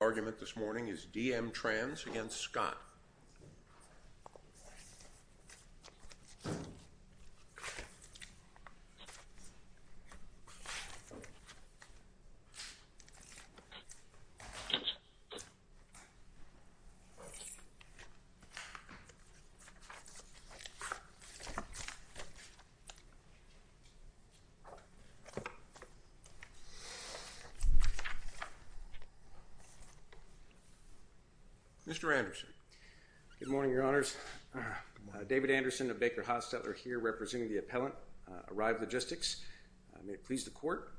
The argument this morning is D.M. Trans v. Scott. Mr. Anderson. Good morning, your honors. David Anderson of Baker Haas-Tetler here representing the appellant, Arrive Logistics. May it please the court,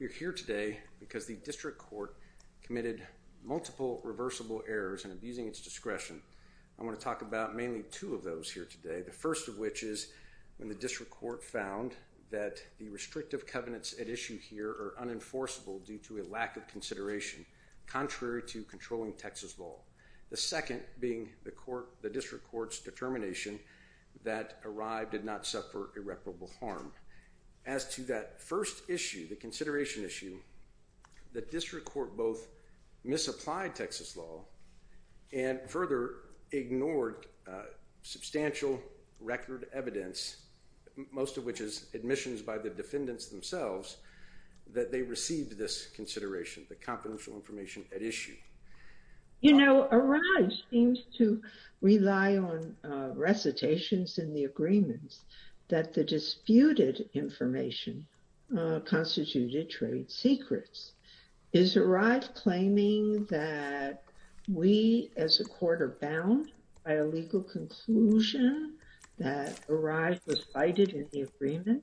you're here today because the district court committed multiple reversible errors and abusing its discretion. I want to talk about mainly two of those here today. The first of which is when the district court found that the restrictive covenants at issue here are unenforceable due to a lack of controlling Texas law. The second being the court, the district court's determination that Arrive did not suffer irreparable harm. As to that first issue, the consideration issue, the district court both misapplied Texas law and further ignored substantial record evidence, most of which is admissions by the defendants themselves, that they received this consideration, the You know, Arrive seems to rely on recitations in the agreements that the disputed information constituted trade secrets. Is Arrive claiming that we as a court are bound by a legal conclusion that Arrive was fighted in the agreement?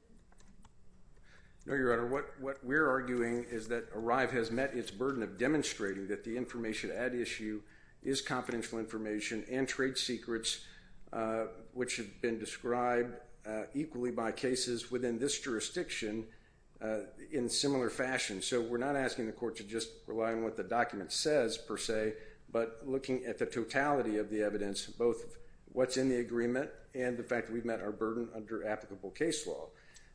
No, your honor. What we're arguing is that Arrive has met its burden of the information at issue is confidential information and trade secrets, which have been described equally by cases within this jurisdiction in similar fashion. So we're not asking the court to just rely on what the document says per se, but looking at the totality of the evidence, both what's in the agreement and the fact that we've met our burden under applicable case law.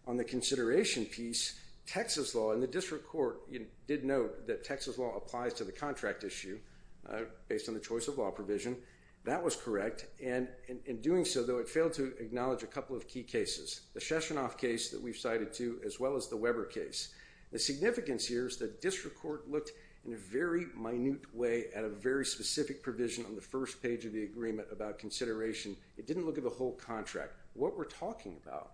On the consideration piece, Texas law and the district court did note that Texas law applies to the contract issue based on the choice of law provision. That was correct, and in doing so, though, it failed to acknowledge a couple of key cases. The Sheshanoff case that we've cited, too, as well as the Weber case. The significance here is that district court looked in a very minute way at a very specific provision on the first page of the agreement about consideration. It didn't look at the whole contract. What we're talking about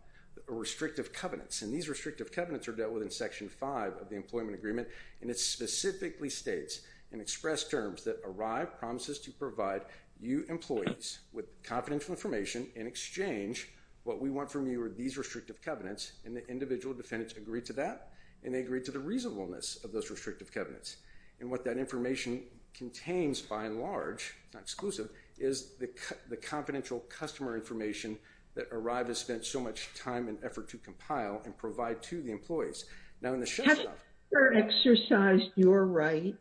are restrictive covenants, and these restrictive covenants are dealt with in section 5 of the employment agreement, and it specifically states in express terms that ARRIVE promises to provide you employees with confidential information in exchange. What we want from you are these restrictive covenants, and the individual defendants agreed to that, and they agreed to the reasonableness of those restrictive covenants. And what that information contains, by and large, not exclusive, is the confidential customer information that ARRIVE has now in the Sheshanoff. Has the court exercised your right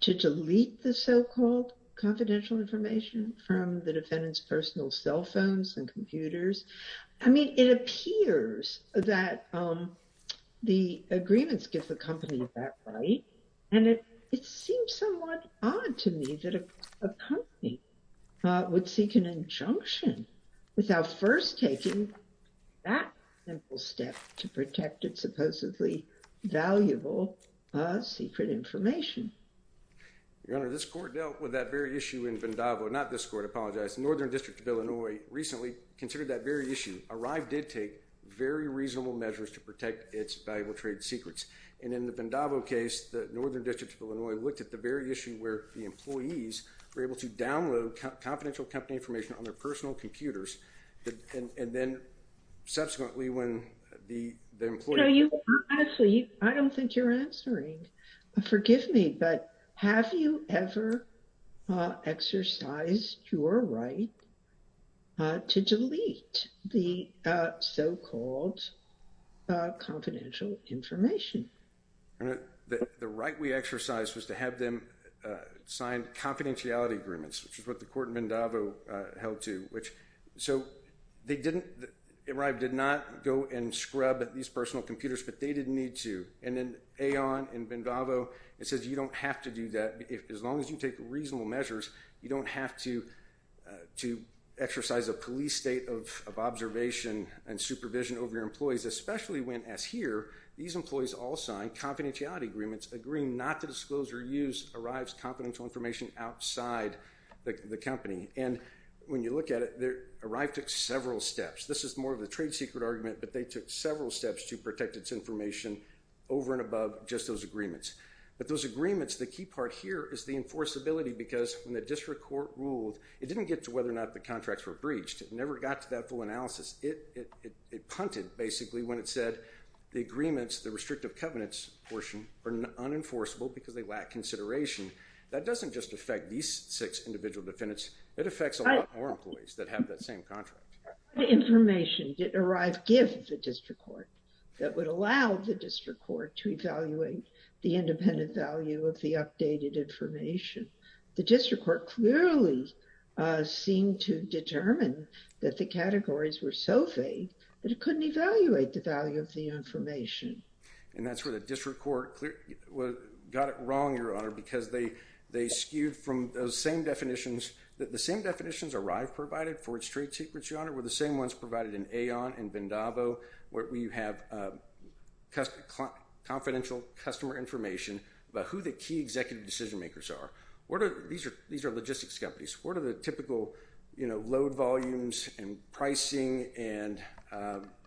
to delete the so-called confidential information from the defendants' personal cell phones and computers? I mean, it appears that the agreements give the company that right, and it seems somewhat odd to me that a company would seek an injunction without first taking that simple step to protect its supposedly valuable secret information. Your Honor, this court dealt with that very issue in Vandavo, not this court, I apologize, the Northern District of Illinois recently considered that very issue. ARRIVE did take very reasonable measures to protect its valuable trade secrets, and in the Vandavo case, the Northern District of Illinois looked at the very issue where the employee... I don't think you're answering. Forgive me, but have you ever exercised your right to delete the so-called confidential information? The right we exercised was to have them sign confidentiality agreements, which is what the court in Vandavo held to. So ARRIVE did not go and scrub these personal computers, but they didn't need to. And then AON in Vandavo, it says you don't have to do that. As long as you take reasonable measures, you don't have to exercise a police state of observation and supervision over your employees, especially when, as here, these employees all signed confidentiality agreements agreeing not to disclose or use ARRIVE's confidential information outside the company. And when you look at it, ARRIVE took several steps. This is more of a trade secret argument, but they took several steps to protect its information over and above just those agreements. But those agreements, the key part here is the enforceability, because when the district court ruled, it didn't get to whether or not the contracts were breached. It never got to that full analysis. It punted, basically, when it said the agreements, the restrictive covenants portion, are unenforceable because they lack consideration. That doesn't just affect these six individual defendants. It affects a lot more employees that have that same contract. The information did ARRIVE give the district court that would allow the district court to evaluate the independent value of the updated information. The district court clearly seemed to determine that the categories were so vague that it couldn't evaluate the value of the information. And that's where the district court got it skewed from those same definitions that the same definitions ARRIVE provided for its trade secrets, Your Honor, were the same ones provided in Aon and Bendavo, where you have confidential customer information about who the key executive decision makers are. These are logistics companies. What are the typical, you know, load volumes and pricing and,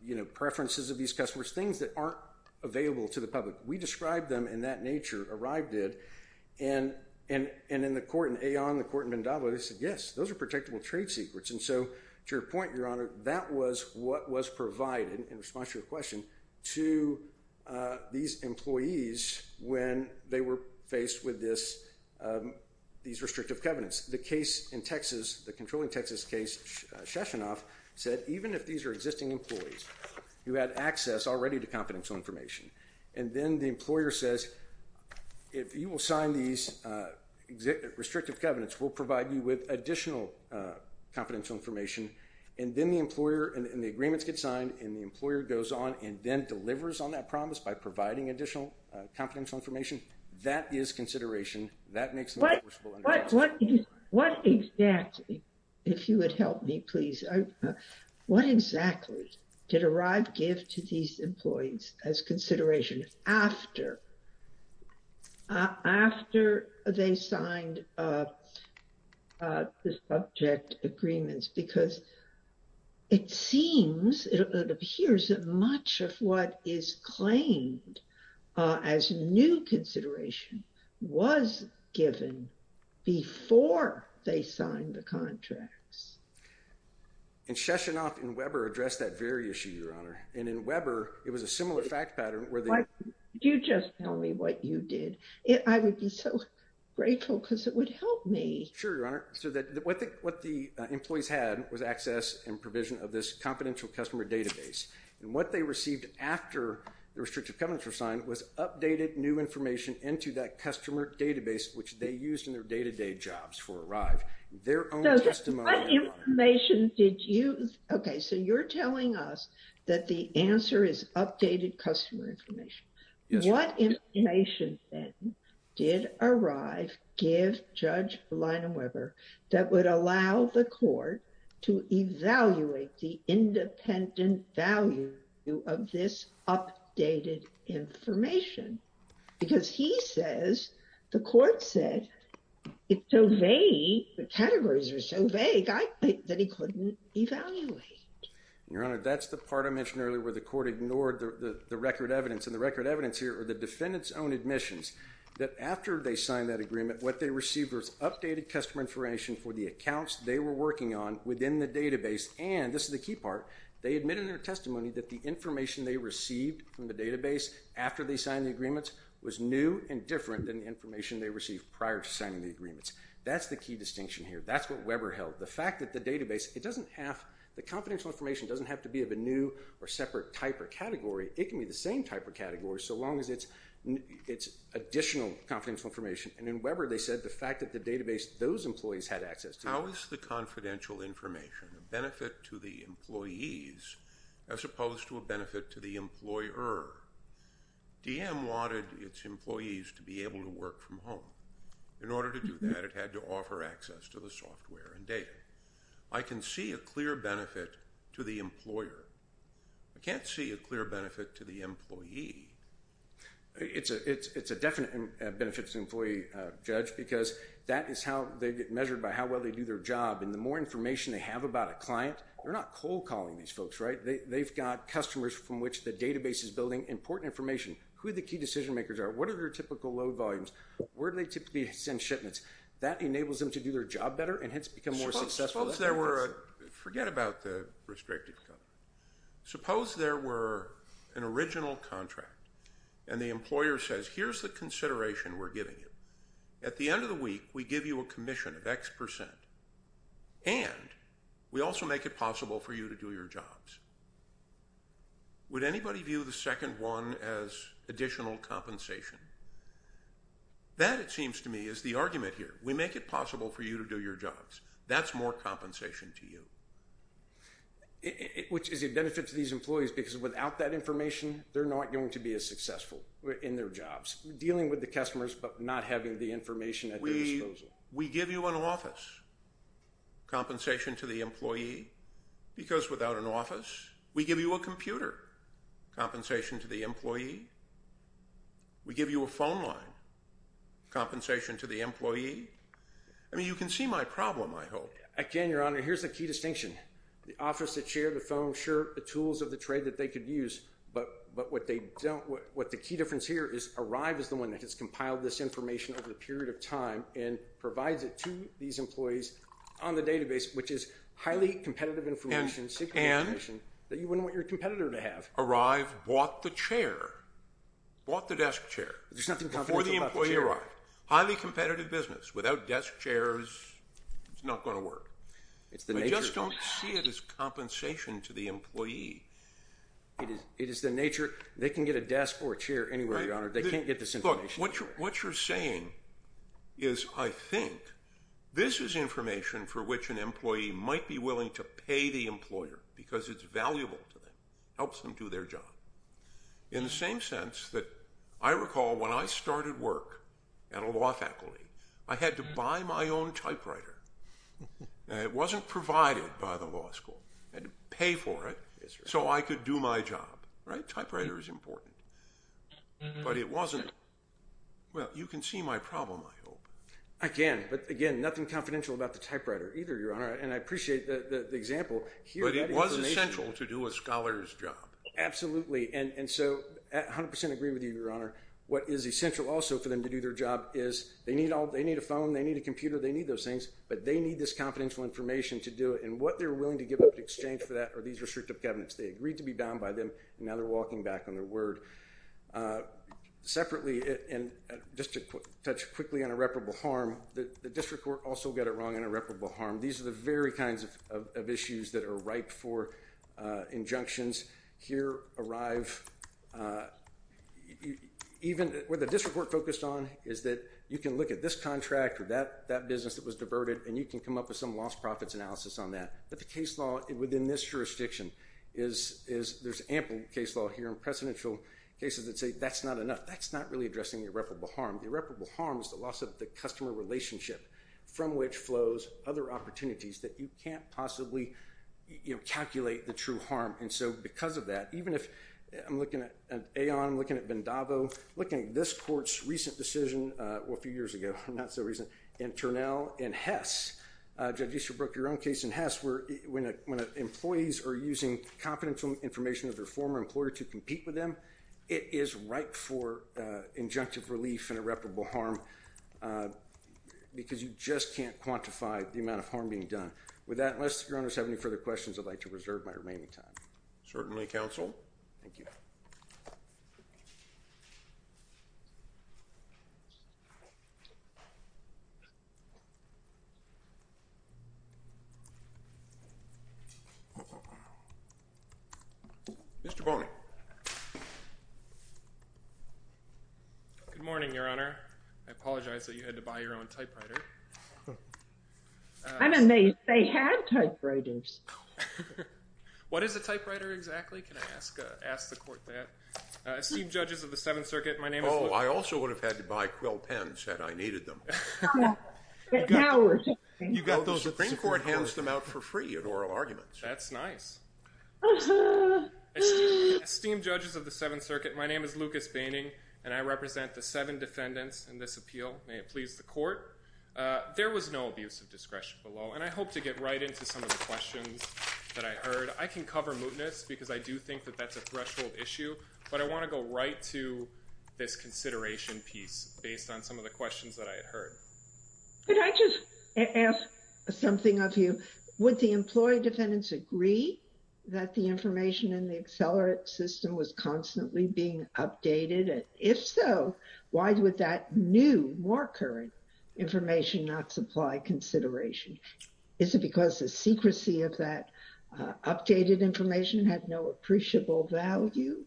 you know, preferences of these customers? Things that aren't available to the public. We And in the court in Aon, the court in Bendavo, they said, yes, those are protectable trade secrets. And so, to your point, Your Honor, that was what was provided, in response to your question, to these employees when they were faced with this, these restrictive covenants. The case in Texas, the controlling Texas case, Sheshanoff said, even if these are existing employees, you had access already to confidential information. And then the employer says, if you will sign these restrictive covenants, we'll provide you with additional confidential information. And then the employer, and the agreements get signed, and the employer goes on and then delivers on that promise by providing additional confidential information. That is consideration. That makes them enforceable. What exactly, if you would help me, please, what exactly did ARRIVE give to these employees as consideration after, after they signed the subject agreements? Because it seems, it appears that much of what is claimed as new consideration was given before they signed the contracts. And Sheshanoff and Weber addressed that very issue, Your Honor. And in Weber, it was a similar fact pattern, where they... Why don't you just tell me what you did? I would be so grateful, because it would help me. Sure, Your Honor. So that, what the, what the employees had was access and provision of this confidential customer database. And what they received after the restrictive covenants were signed was updated new information into that customer database, which they used in their day-to-day jobs for ARRIVE. Their own testimony, Your Honor. So what information did you... Okay, so you're telling us that the answer is updated customer information. Yes, Your Honor. What information then did ARRIVE give Judge Lyna Weber that would allow the court to evaluate the independent value of this updated information? Because he says, the court said, it's so vague, the categories are so vague, that he couldn't evaluate. Your Honor, that's the part I mentioned earlier, where the court ignored the record evidence. And the record evidence here are the defendant's own admissions. That after they signed that agreement, what they received was updated customer information for the accounts they were working on within the database. And, this is the key part, they information they received from the database after they signed the agreements was new and different than the information they received prior to signing the agreements. That's the key distinction here. That's what Weber held. The fact that the database, it doesn't have, the confidential information doesn't have to be of a new or separate type or category. It can be the same type or category, so long as it's additional confidential information. And in Weber, they said the fact that the database, those employees had access to... How is the confidential information a benefit to the employees as opposed to a benefit to the employer? DM wanted its employees to be able to work from home. In order to do that, it had to offer access to the software and data. I can see a clear benefit to the employer. I can't see a clear benefit to the employee. It's a definite benefit to the employee, Judge, because that is how they get measured by how well they do their job. And, the more information they have about a client, they're not cold calling these folks, right? They've got customers from which the database is building important information, who the key decision makers are, what are their typical load volumes, where do they typically send shipments. That enables them to do their job better and hence become more successful. Suppose there were, forget about the restricted income, suppose there were an original contract and the employer says, here's the consideration we're giving you. At the end of the week, we give you a commission of X percent and we also make it possible for you to do your jobs. Would anybody view the second one as additional compensation? That, it seems to me, is the argument here. We make it possible for you to do your jobs. That's more compensation to you. Which is a benefit to these employees because without that information, they're not going to be as successful in their jobs. Dealing with the customers, but not having the information at their disposal. We give you an office compensation to the employee because without an office. We give you a computer compensation to the employee. We give you a phone line compensation to the employee. I mean, you can see my problem, I hope. Again, your honor, here's the key distinction. The office, the chair, the phone, sure, the tools of the trade that they could use, but what they don't, what the key difference here is, Arrive is the one that has compiled this information over a period of time and provides it to these employees on the database, which is highly competitive information, secret information, that you wouldn't want your competitor to have. Arrive bought the chair, bought the desk chair. There's nothing confidential about the chair. Before the employee arrived. Highly competitive business. Without desk chairs, it's not going to work. It's the nature, they can get a desk or a chair anywhere, your honor. They can't get this information. Look, what you're saying is, I think, this is information for which an employee might be willing to pay the employer because it's valuable to them. Helps them do their job. In the same sense that I recall when I started work at a law faculty, I had to buy my own typewriter. It wasn't provided by the company. Typewriter is important, but it wasn't. Well, you can see my problem, I hope. I can, but again, nothing confidential about the typewriter either, your honor, and I appreciate the example. But it was essential to do a scholar's job. Absolutely, and so I 100% agree with you, your honor. What is essential also for them to do their job is, they need a phone, they need a computer, they need those things, but they need this confidential information to do it, and what they're willing to give up in exchange for that are these restrictive evidence. They agreed to be bound by them, and now they're walking back on their word. Separately, and just to touch quickly on irreparable harm, the district court also got it wrong on irreparable harm. These are the very kinds of issues that are ripe for injunctions. Here arrive, even where the district court focused on, is that you can look at this contract or that business that was diverted, and you can come up with some lost profits analysis on that. But the case law within this jurisdiction is, there's ample case law here in precedential cases that say that's not enough, that's not really addressing the irreparable harm. The irreparable harm is the loss of the customer relationship from which flows other opportunities that you can't possibly calculate the true harm. And so because of that, even if I'm looking at Aon, I'm looking at Vandavo, looking at this court's recent decision, well a few years ago, not so recent, and Turnell and Hess, Judge Easterbrook, your own case in Hess, where when employees are using confidential information of their former employer to compete with them, it is ripe for injunctive relief and irreparable harm, because you just can't quantify the amount of harm being done. With that, unless your owners have any further questions, I'd like to reserve my remaining time. Certainly, counsel. Thank you. Mr. Boney. Good morning, Your Honor. I apologize that you had to buy your own typewriter. I'm amazed they have typewriters. What is a typewriter exactly? Can I ask the court that? Steve Judges of the Seventh Circuit, my name is Luke. Oh, I also would have had to buy Quill pens had I needed them. You got those at the Supreme Court. The Supreme Court hands them out for free in oral arguments. That's nice. Esteemed Judges of the Seventh Circuit, my name is Lucas Boehning, and I represent the seven defendants in this appeal. May it please the court. There was no abuse of discretion below, and I hope to get right into some of the questions that I heard. I can cover mootness, because I do think that that's a threshold issue, but I want to go right to this consideration piece based on some of the questions that I had heard. Could I just ask something of you? Would the employee defendants agree that the information in the Accelerate system was constantly being updated, and if so, why would that new, more current information not supply consideration? Is it because the secrecy of that updated information had no appreciable value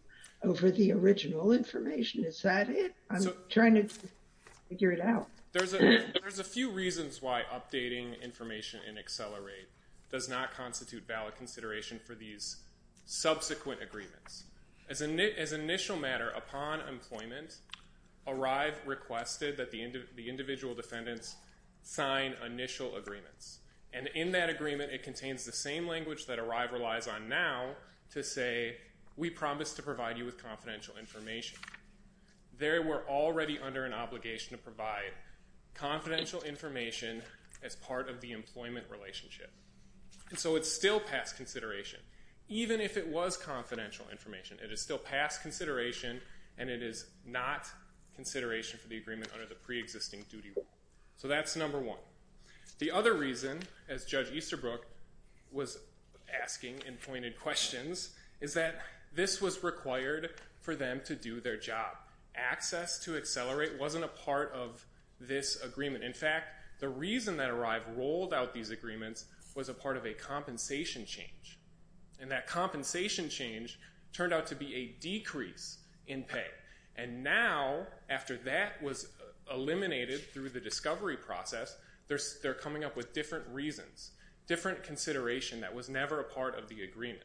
over the original information? Is that it? I'm trying to figure it out. There's a few reasons why updating information in Accelerate does not constitute valid consideration for these subsequent agreements. As an initial matter, upon employment, ARRIVE requested that the individual defendants sign initial agreements, and in that agreement it contains the same language that provides you with confidential information. They were already under an obligation to provide confidential information as part of the employment relationship, and so it's still past consideration. Even if it was confidential information, it is still past consideration, and it is not consideration for the agreement under the pre-existing duty rule. So that's number one. The other reason, as Judge Easterbrook was asking and pointed questions, is that this was required for them to do their job. Access to Accelerate wasn't a part of this agreement. In fact, the reason that ARRIVE rolled out these agreements was a part of a compensation change, and that compensation change turned out to be a decrease in pay. And now, after that was eliminated through the discovery process, they're coming up with different reasons, different consideration that was never a part of the agreement.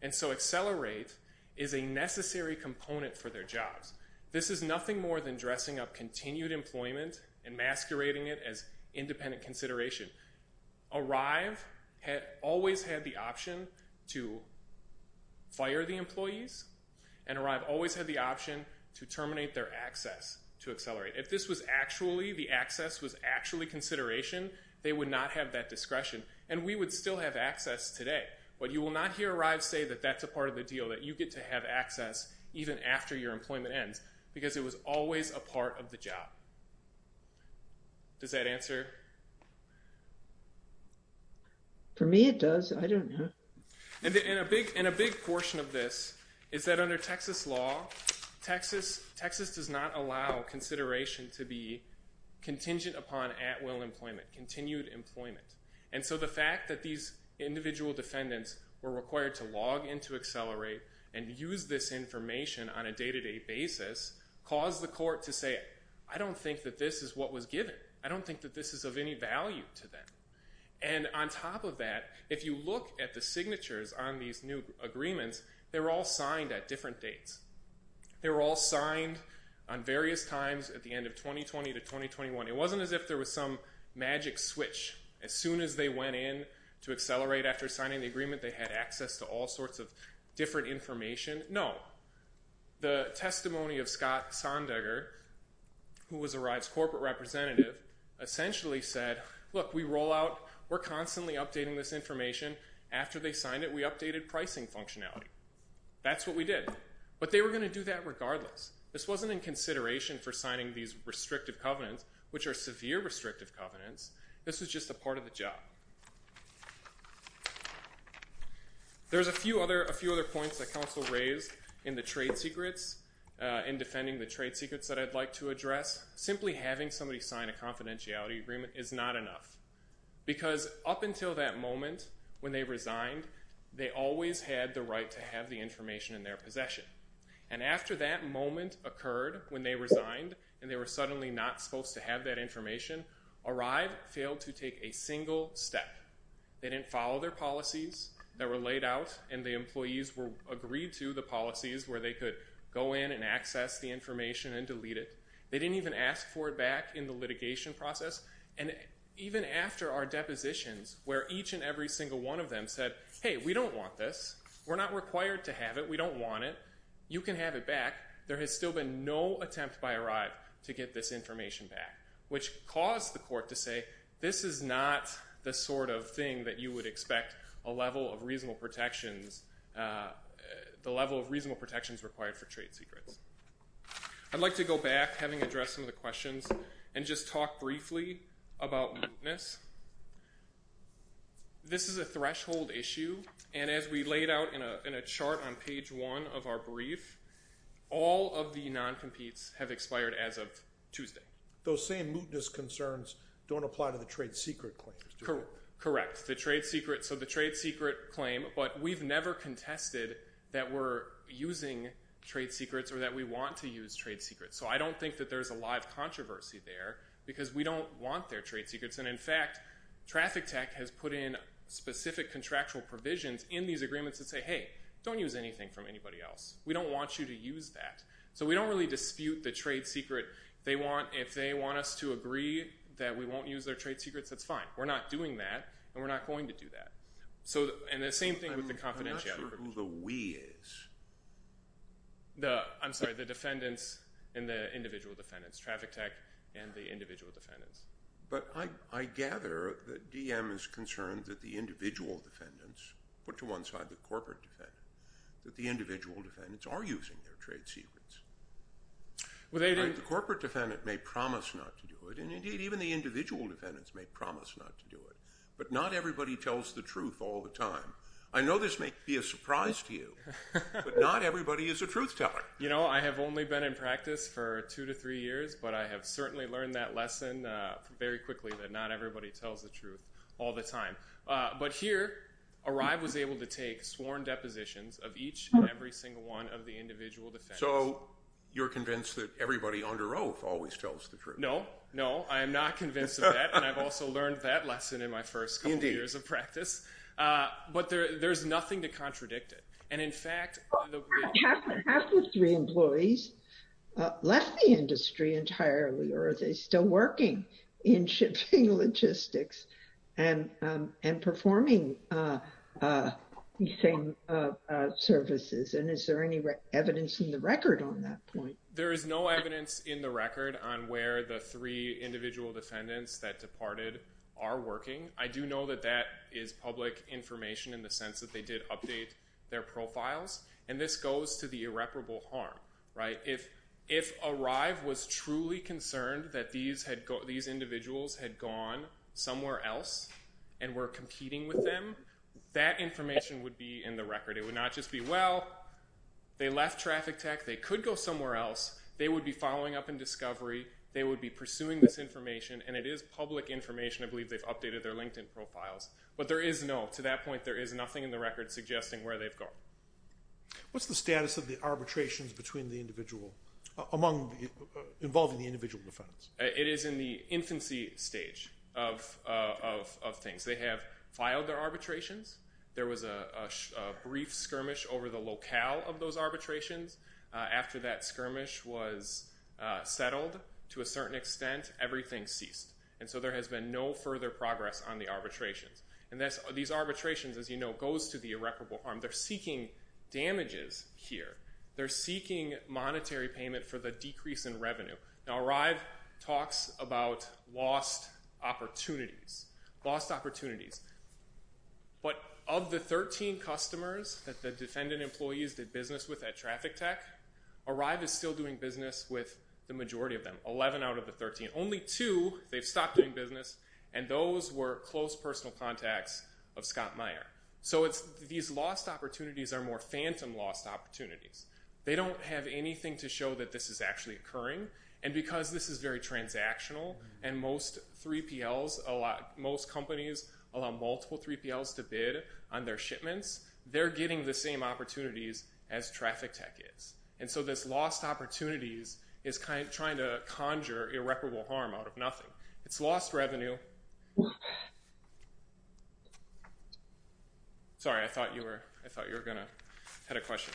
And so Accelerate is a necessary component for their jobs. This is nothing more than dressing up continued employment and masquerading it as independent consideration. ARRIVE had always had the option to fire the employees, and ARRIVE always had the option to terminate their access to Accelerate. If this was actually, the access was actually consideration, they would not have that discretion, and we would still have access today. But you will not hear ARRIVE say that that's a part of the deal, that you get to have access even after your employment ends, because it was always a part of the job. Does that answer? For me it does, I don't know. And a big portion of this is that under Texas law, Texas does not allow consideration to be contingent upon at-will employment, continued employment. And so the fact that these individual defendants were required to log into Accelerate and use this information on a day-to-day basis caused the court to say, I don't think that this is what was given. I don't think that this is of any value to them. And on top of that, if you look at the signatures on these new agreements, they were all signed at different dates. They were all signed on various times at the end of 2020 to 2021. It wasn't as if there was some magic switch. As soon as they went in to Accelerate after signing the agreement, they had access to all sorts of different information. No. The testimony of Scott Sondegger, who was ARRIVE's corporate representative, essentially said, look, we roll out, we're constantly updating this information. After they signed it, we updated pricing functionality. That's what we did. But they were going to do that regardless. This wasn't in consideration for signing these restrictive covenants, which are severe restrictive covenants. This was just a part of the job. There's a few other points that counsel raised in the trade secrets, in defending the trade secrets that I'd like to address. Simply having somebody sign a confidentiality agreement is not enough. Because up until that moment, when they resigned, they always had the right to have the information in their possession. And after that moment occurred, when they resigned, and they were suddenly not supposed to have that information, ARRIVE failed to take a single step. They didn't follow their policies that were laid out, and the employees were agreed to the policies where they could go in and access the information and delete it. They didn't even ask for it back in the litigation process. And even after our depositions, where each and every single one of them said, hey, we don't want this. We're not required to have it. We don't want it. You can have it back. There has still been no attempt by ARRIVE to get this information back, which caused the court to say, this is not the sort of thing that you would expect a level of reasonable protections, the level of reasonable protections required for trade secrets. I'd like to go back, having addressed some of the questions, and just talk briefly about mootness. This is a threshold issue, and as we laid out in a chart on page 1 of our brief, all of the non-competes have expired as of Tuesday. Those same mootness concerns don't apply to the trade secret claims, do they? Correct. So the trade secret claim, but we've never contested that we're using trade secrets or that we want to use trade secrets. So I don't think that there's a lot of controversy there, because we don't want their trade secrets. And in fact, Traffic Tech has put in specific contractual provisions in these agreements that say, hey, don't use anything from anybody else. We don't want you to use that. So we don't really dispute the trade secret. If they want us to agree that we won't use their trade secrets, that's fine. We're not doing that, and we're not going to do that. And the same thing with the individual defendants, Traffic Tech and the individual defendants. But I gather that DM is concerned that the individual defendants, put to one side the corporate defendant, that the individual defendants are using their trade secrets. The corporate defendant may promise not to do it, and indeed even the individual defendants may promise not to do it, but not everybody tells the truth all the time. I know this may be a surprise to you, but not everybody is a lawyer. I've been a lawyer for two to three years, but I have certainly learned that lesson very quickly, that not everybody tells the truth all the time. But here, Arrive was able to take sworn depositions of each and every single one of the individual defendants. So you're convinced that everybody under oath always tells the truth? No, no, I am not convinced of that, and I've also learned that lesson in my first couple years of practice. But there's nothing to contradict it, and in the case of Arrive, there's no evidence in the record that the three individual defendants that departed are working. I do know that that is public information, in the sense that they did update their profiles, and this goes to the irreparable harm, right? If Arrive was truly concerned that these individuals had gone somewhere else, and were competing with them, that information would be in the record. It would not just be, well, they left Traffic Tech, they could go somewhere else, they would be following up in Discovery, they would be pursuing this information, and it is public information. I believe they've updated their LinkedIn profiles. But there is no, to that point, there is nothing in the record suggesting where they've gone. What's the status of the arbitrations between the individual, involving the individual defendants? It is in the infancy stage of things. They have filed their arbitrations. There was a brief skirmish over the locale of those arbitrations. After that skirmish was settled, to a certain extent, everything ceased. And so there has been no further progress on the arbitrations. These arbitrations, as you know, goes to the irreparable harm. They're seeking damages here. They're seeking monetary payment for the decrease in revenue. Now, Arrive talks about lost opportunities. But of the 13 customers that the defendant employees did business with at Traffic Tech, Arrive is still doing business with the majority of them, 11 out of the 13. Only two, they've stopped doing business, and those were close personal contacts of Scott Meyer. So these lost opportunities are more phantom lost opportunities. They don't have anything to show that this is actually occurring. And because this is very transactional, and most 3PLs, most companies allow multiple 3PLs to bid on their shipments, they're getting the same opportunities as Traffic Tech is. And so this lost opportunities is trying to do irreparable harm out of nothing. It's lost revenue. Sorry, I thought you were going to have a question.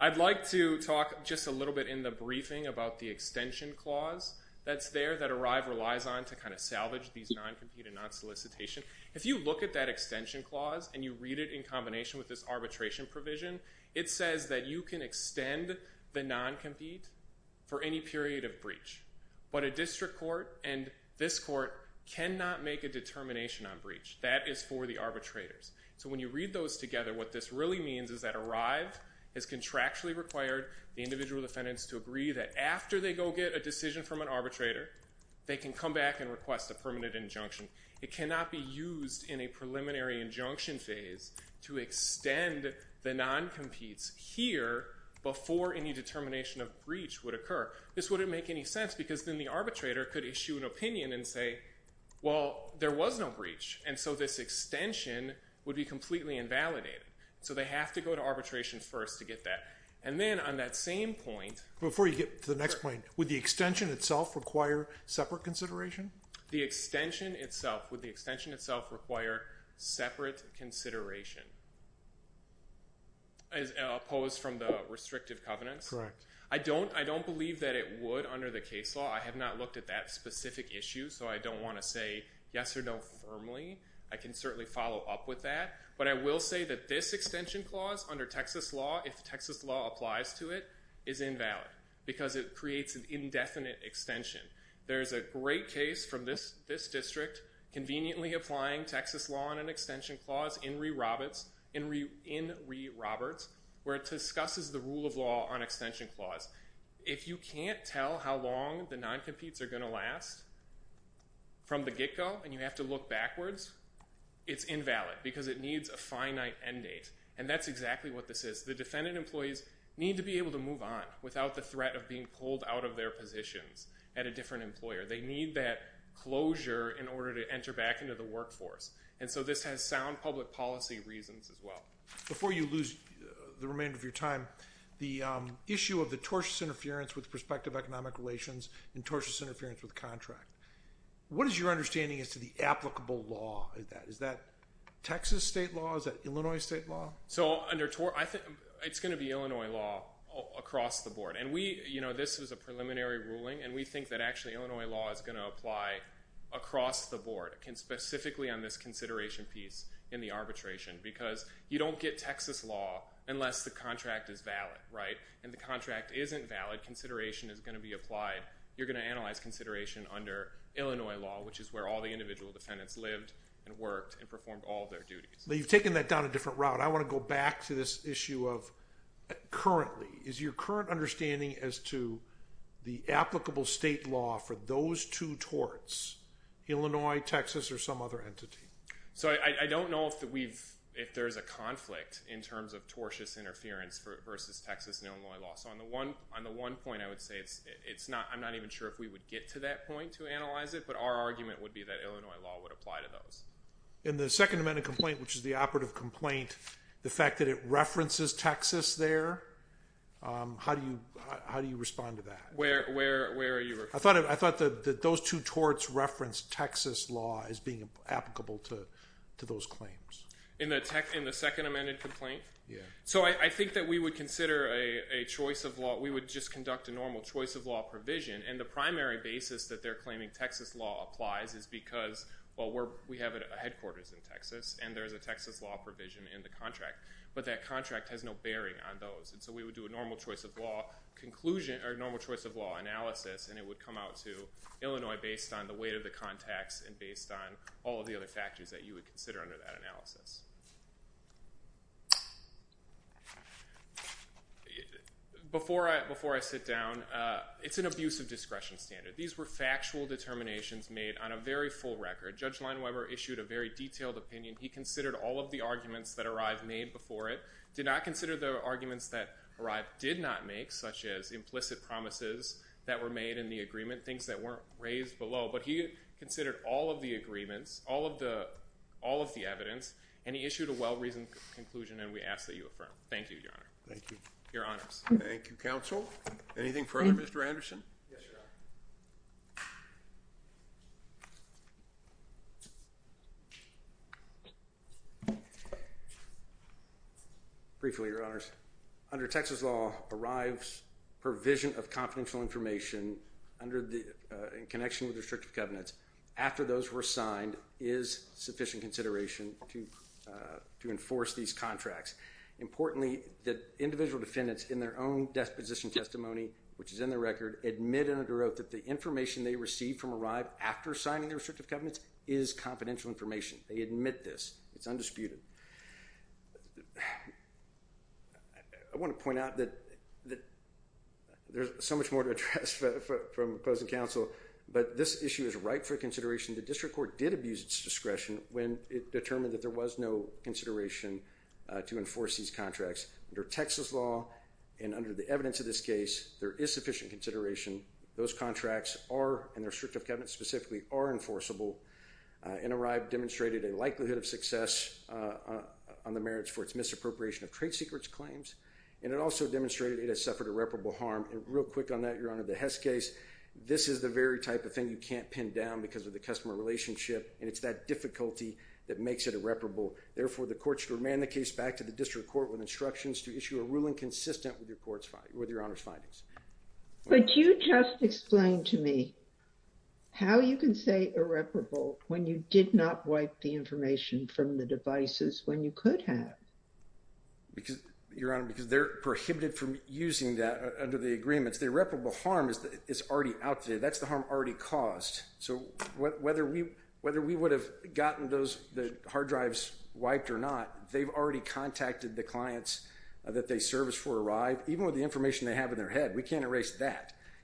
I'd like to talk just a little bit in the briefing about the extension clause that's there that Arrive relies on to kind of salvage these non-compete and non-solicitation. If you look at that extension clause and you read it in combination with this arbitration provision, it says that you can extend the non-compete for any period of breach. But a district court and this court cannot make a determination on breach. That is for the arbitrators. So when you read those together, what this really means is that Arrive has contractually required the individual defendants to agree that after they go get a decision from an arbitrator, they can come back and request a permanent injunction. It cannot be used in a preliminary injunction phase to extend the non-competes here before any determination of breach would occur. This wouldn't make any sense because then the arbitrator could issue an opinion and say, well, there was no breach, and so this extension would be completely invalidated. So they have to go to arbitration first to get that. And then on that same point... Before you get to the next point, would the extension itself require separate consideration? The extension itself. Would the extension itself require separate consideration as opposed from the restrictive covenants? Correct. I don't believe that it would under the case law. I have not looked at that specific issue, so I don't want to say yes or no firmly. I can certainly follow up with that. But I will say that this extension clause under Texas law, if Texas law applies to it, is invalid because it creates an indefinite extension. There's a great case from this district conveniently applying Texas law on an extension clause in Ree Roberts where it discusses the rule of law on extension clause. If you can't tell how long the non-competes are going to last from the get-go and you have to look backwards, it's invalid because it needs a finite end date. And that's exactly what this is. The defendant employees need to be able to move on without the threat of being pulled out of their positions at a different employer. They need that closure in order to enter back into the workforce. And so this has sound public policy reasons as well. Before you lose the remainder of your time, the issue of the tortious interference with What is your understanding as to the applicable law? Is that Texas state law? Is that Illinois state law? It's going to be Illinois law across the board. This was a preliminary ruling and we think that actually Illinois law is going to apply across the board, specifically on this consideration piece in the arbitration because you don't get Texas law unless the contract is valid. And the contract isn't valid, consideration is going to be applied. You're going to analyze consideration under Illinois law, which is where all the individual defendants lived and worked and performed all their duties. But you've taken that down a different route. I want to go back to this issue of currently. Is your current understanding as to the applicable state law for those two torts, Illinois, Texas, or some other entity? So I don't know if there's a conflict in terms of tortious interference versus Texas and but our argument would be that Illinois law would apply to those. In the second amended complaint, which is the operative complaint, the fact that it references Texas there, how do you respond to that? Where are you? I thought that those two torts referenced Texas law as being applicable to those claims. In the second amended complaint? Yeah. So I think that we would consider a choice of law. We would just conduct a normal choice of law provision. And the primary basis that they're claiming Texas law applies is because, well, we have a headquarters in Texas and there's a Texas law provision in the contract. But that contract has no bearing on those. And so we would do a normal choice of law analysis and it would come out to Illinois based on the weight of the contacts and based on all of the other factors that you would consider under that analysis. Before I sit down, it's an abuse of discretion standard. These were factual determinations made on a very full record. Judge Lineweber issued a very detailed opinion. He considered all of the arguments that arrived made before it, did not consider the arguments that arrived did not make, such as implicit promises that were made in the agreement, things that weren't raised below. But he considered all of the agreements, all of the evidence, and he issued a well-reasoned conclusion. And we ask that you affirm. Thank you, Your Honor. Thank you. Your Honors. Thank you, Counsel. Anything further, Mr. Anderson? Yes, Your Honor. Briefly, Your Honors. Under Texas law, arrives, provision of confidential information in connection with restrictive covenants, after those were signed, is sufficient consideration to enforce these contracts. Importantly, the individual defendants in their own disposition testimony, which is in the record, admit and underwrote that the information they received from arrive after signing the restrictive covenants is confidential information. They admit this. It's undisputed. I want to point out that there's so much more to address from opposing counsel, but this issue is ripe for consideration. The district court did abuse its discretion when it determined that there was no consideration to enforce these contracts. Under Texas law and under the evidence of this case, there is sufficient consideration. Those contracts are, and their restrictive covenants specifically, are enforceable. And arrive demonstrated a likelihood of success on the merits for its misappropriation of trade secrets claims. And it also demonstrated it has suffered irreparable harm. And real quick on that, Your Honor, the Hess case, this is the very type of thing you can't pin down because of the customer relationship. And it's that difficulty that makes it irreparable. Therefore, the court should remand the case back to the district court with instructions to issue a ruling consistent with Your Honor's findings. But you just explained to me how you can say irreparable when you did not wipe the information from the devices when you could have. Your Honor, because they're prohibited from using that under the agreements. The irreparable harm is already out there. That's the harm already caused. So whether we would have gotten the hard drives wiped or not, they've already contacted the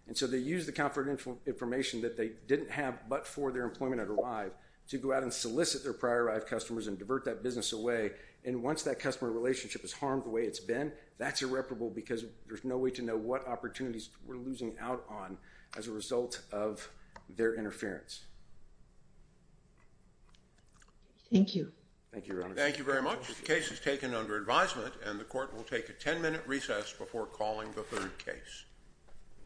And so they use the confidential information that they didn't have but for their employment at Arrive to go out and solicit their prior Arrive customers and divert that business away. And once that customer relationship is harmed the way it's been, that's irreparable because there's no way to know what opportunities we're losing out on as a result of their interference. Thank you. Thank you, Your Honor. Thank you very much. The case is taken under advisement. And the court will take a 10-minute recess before calling the third case.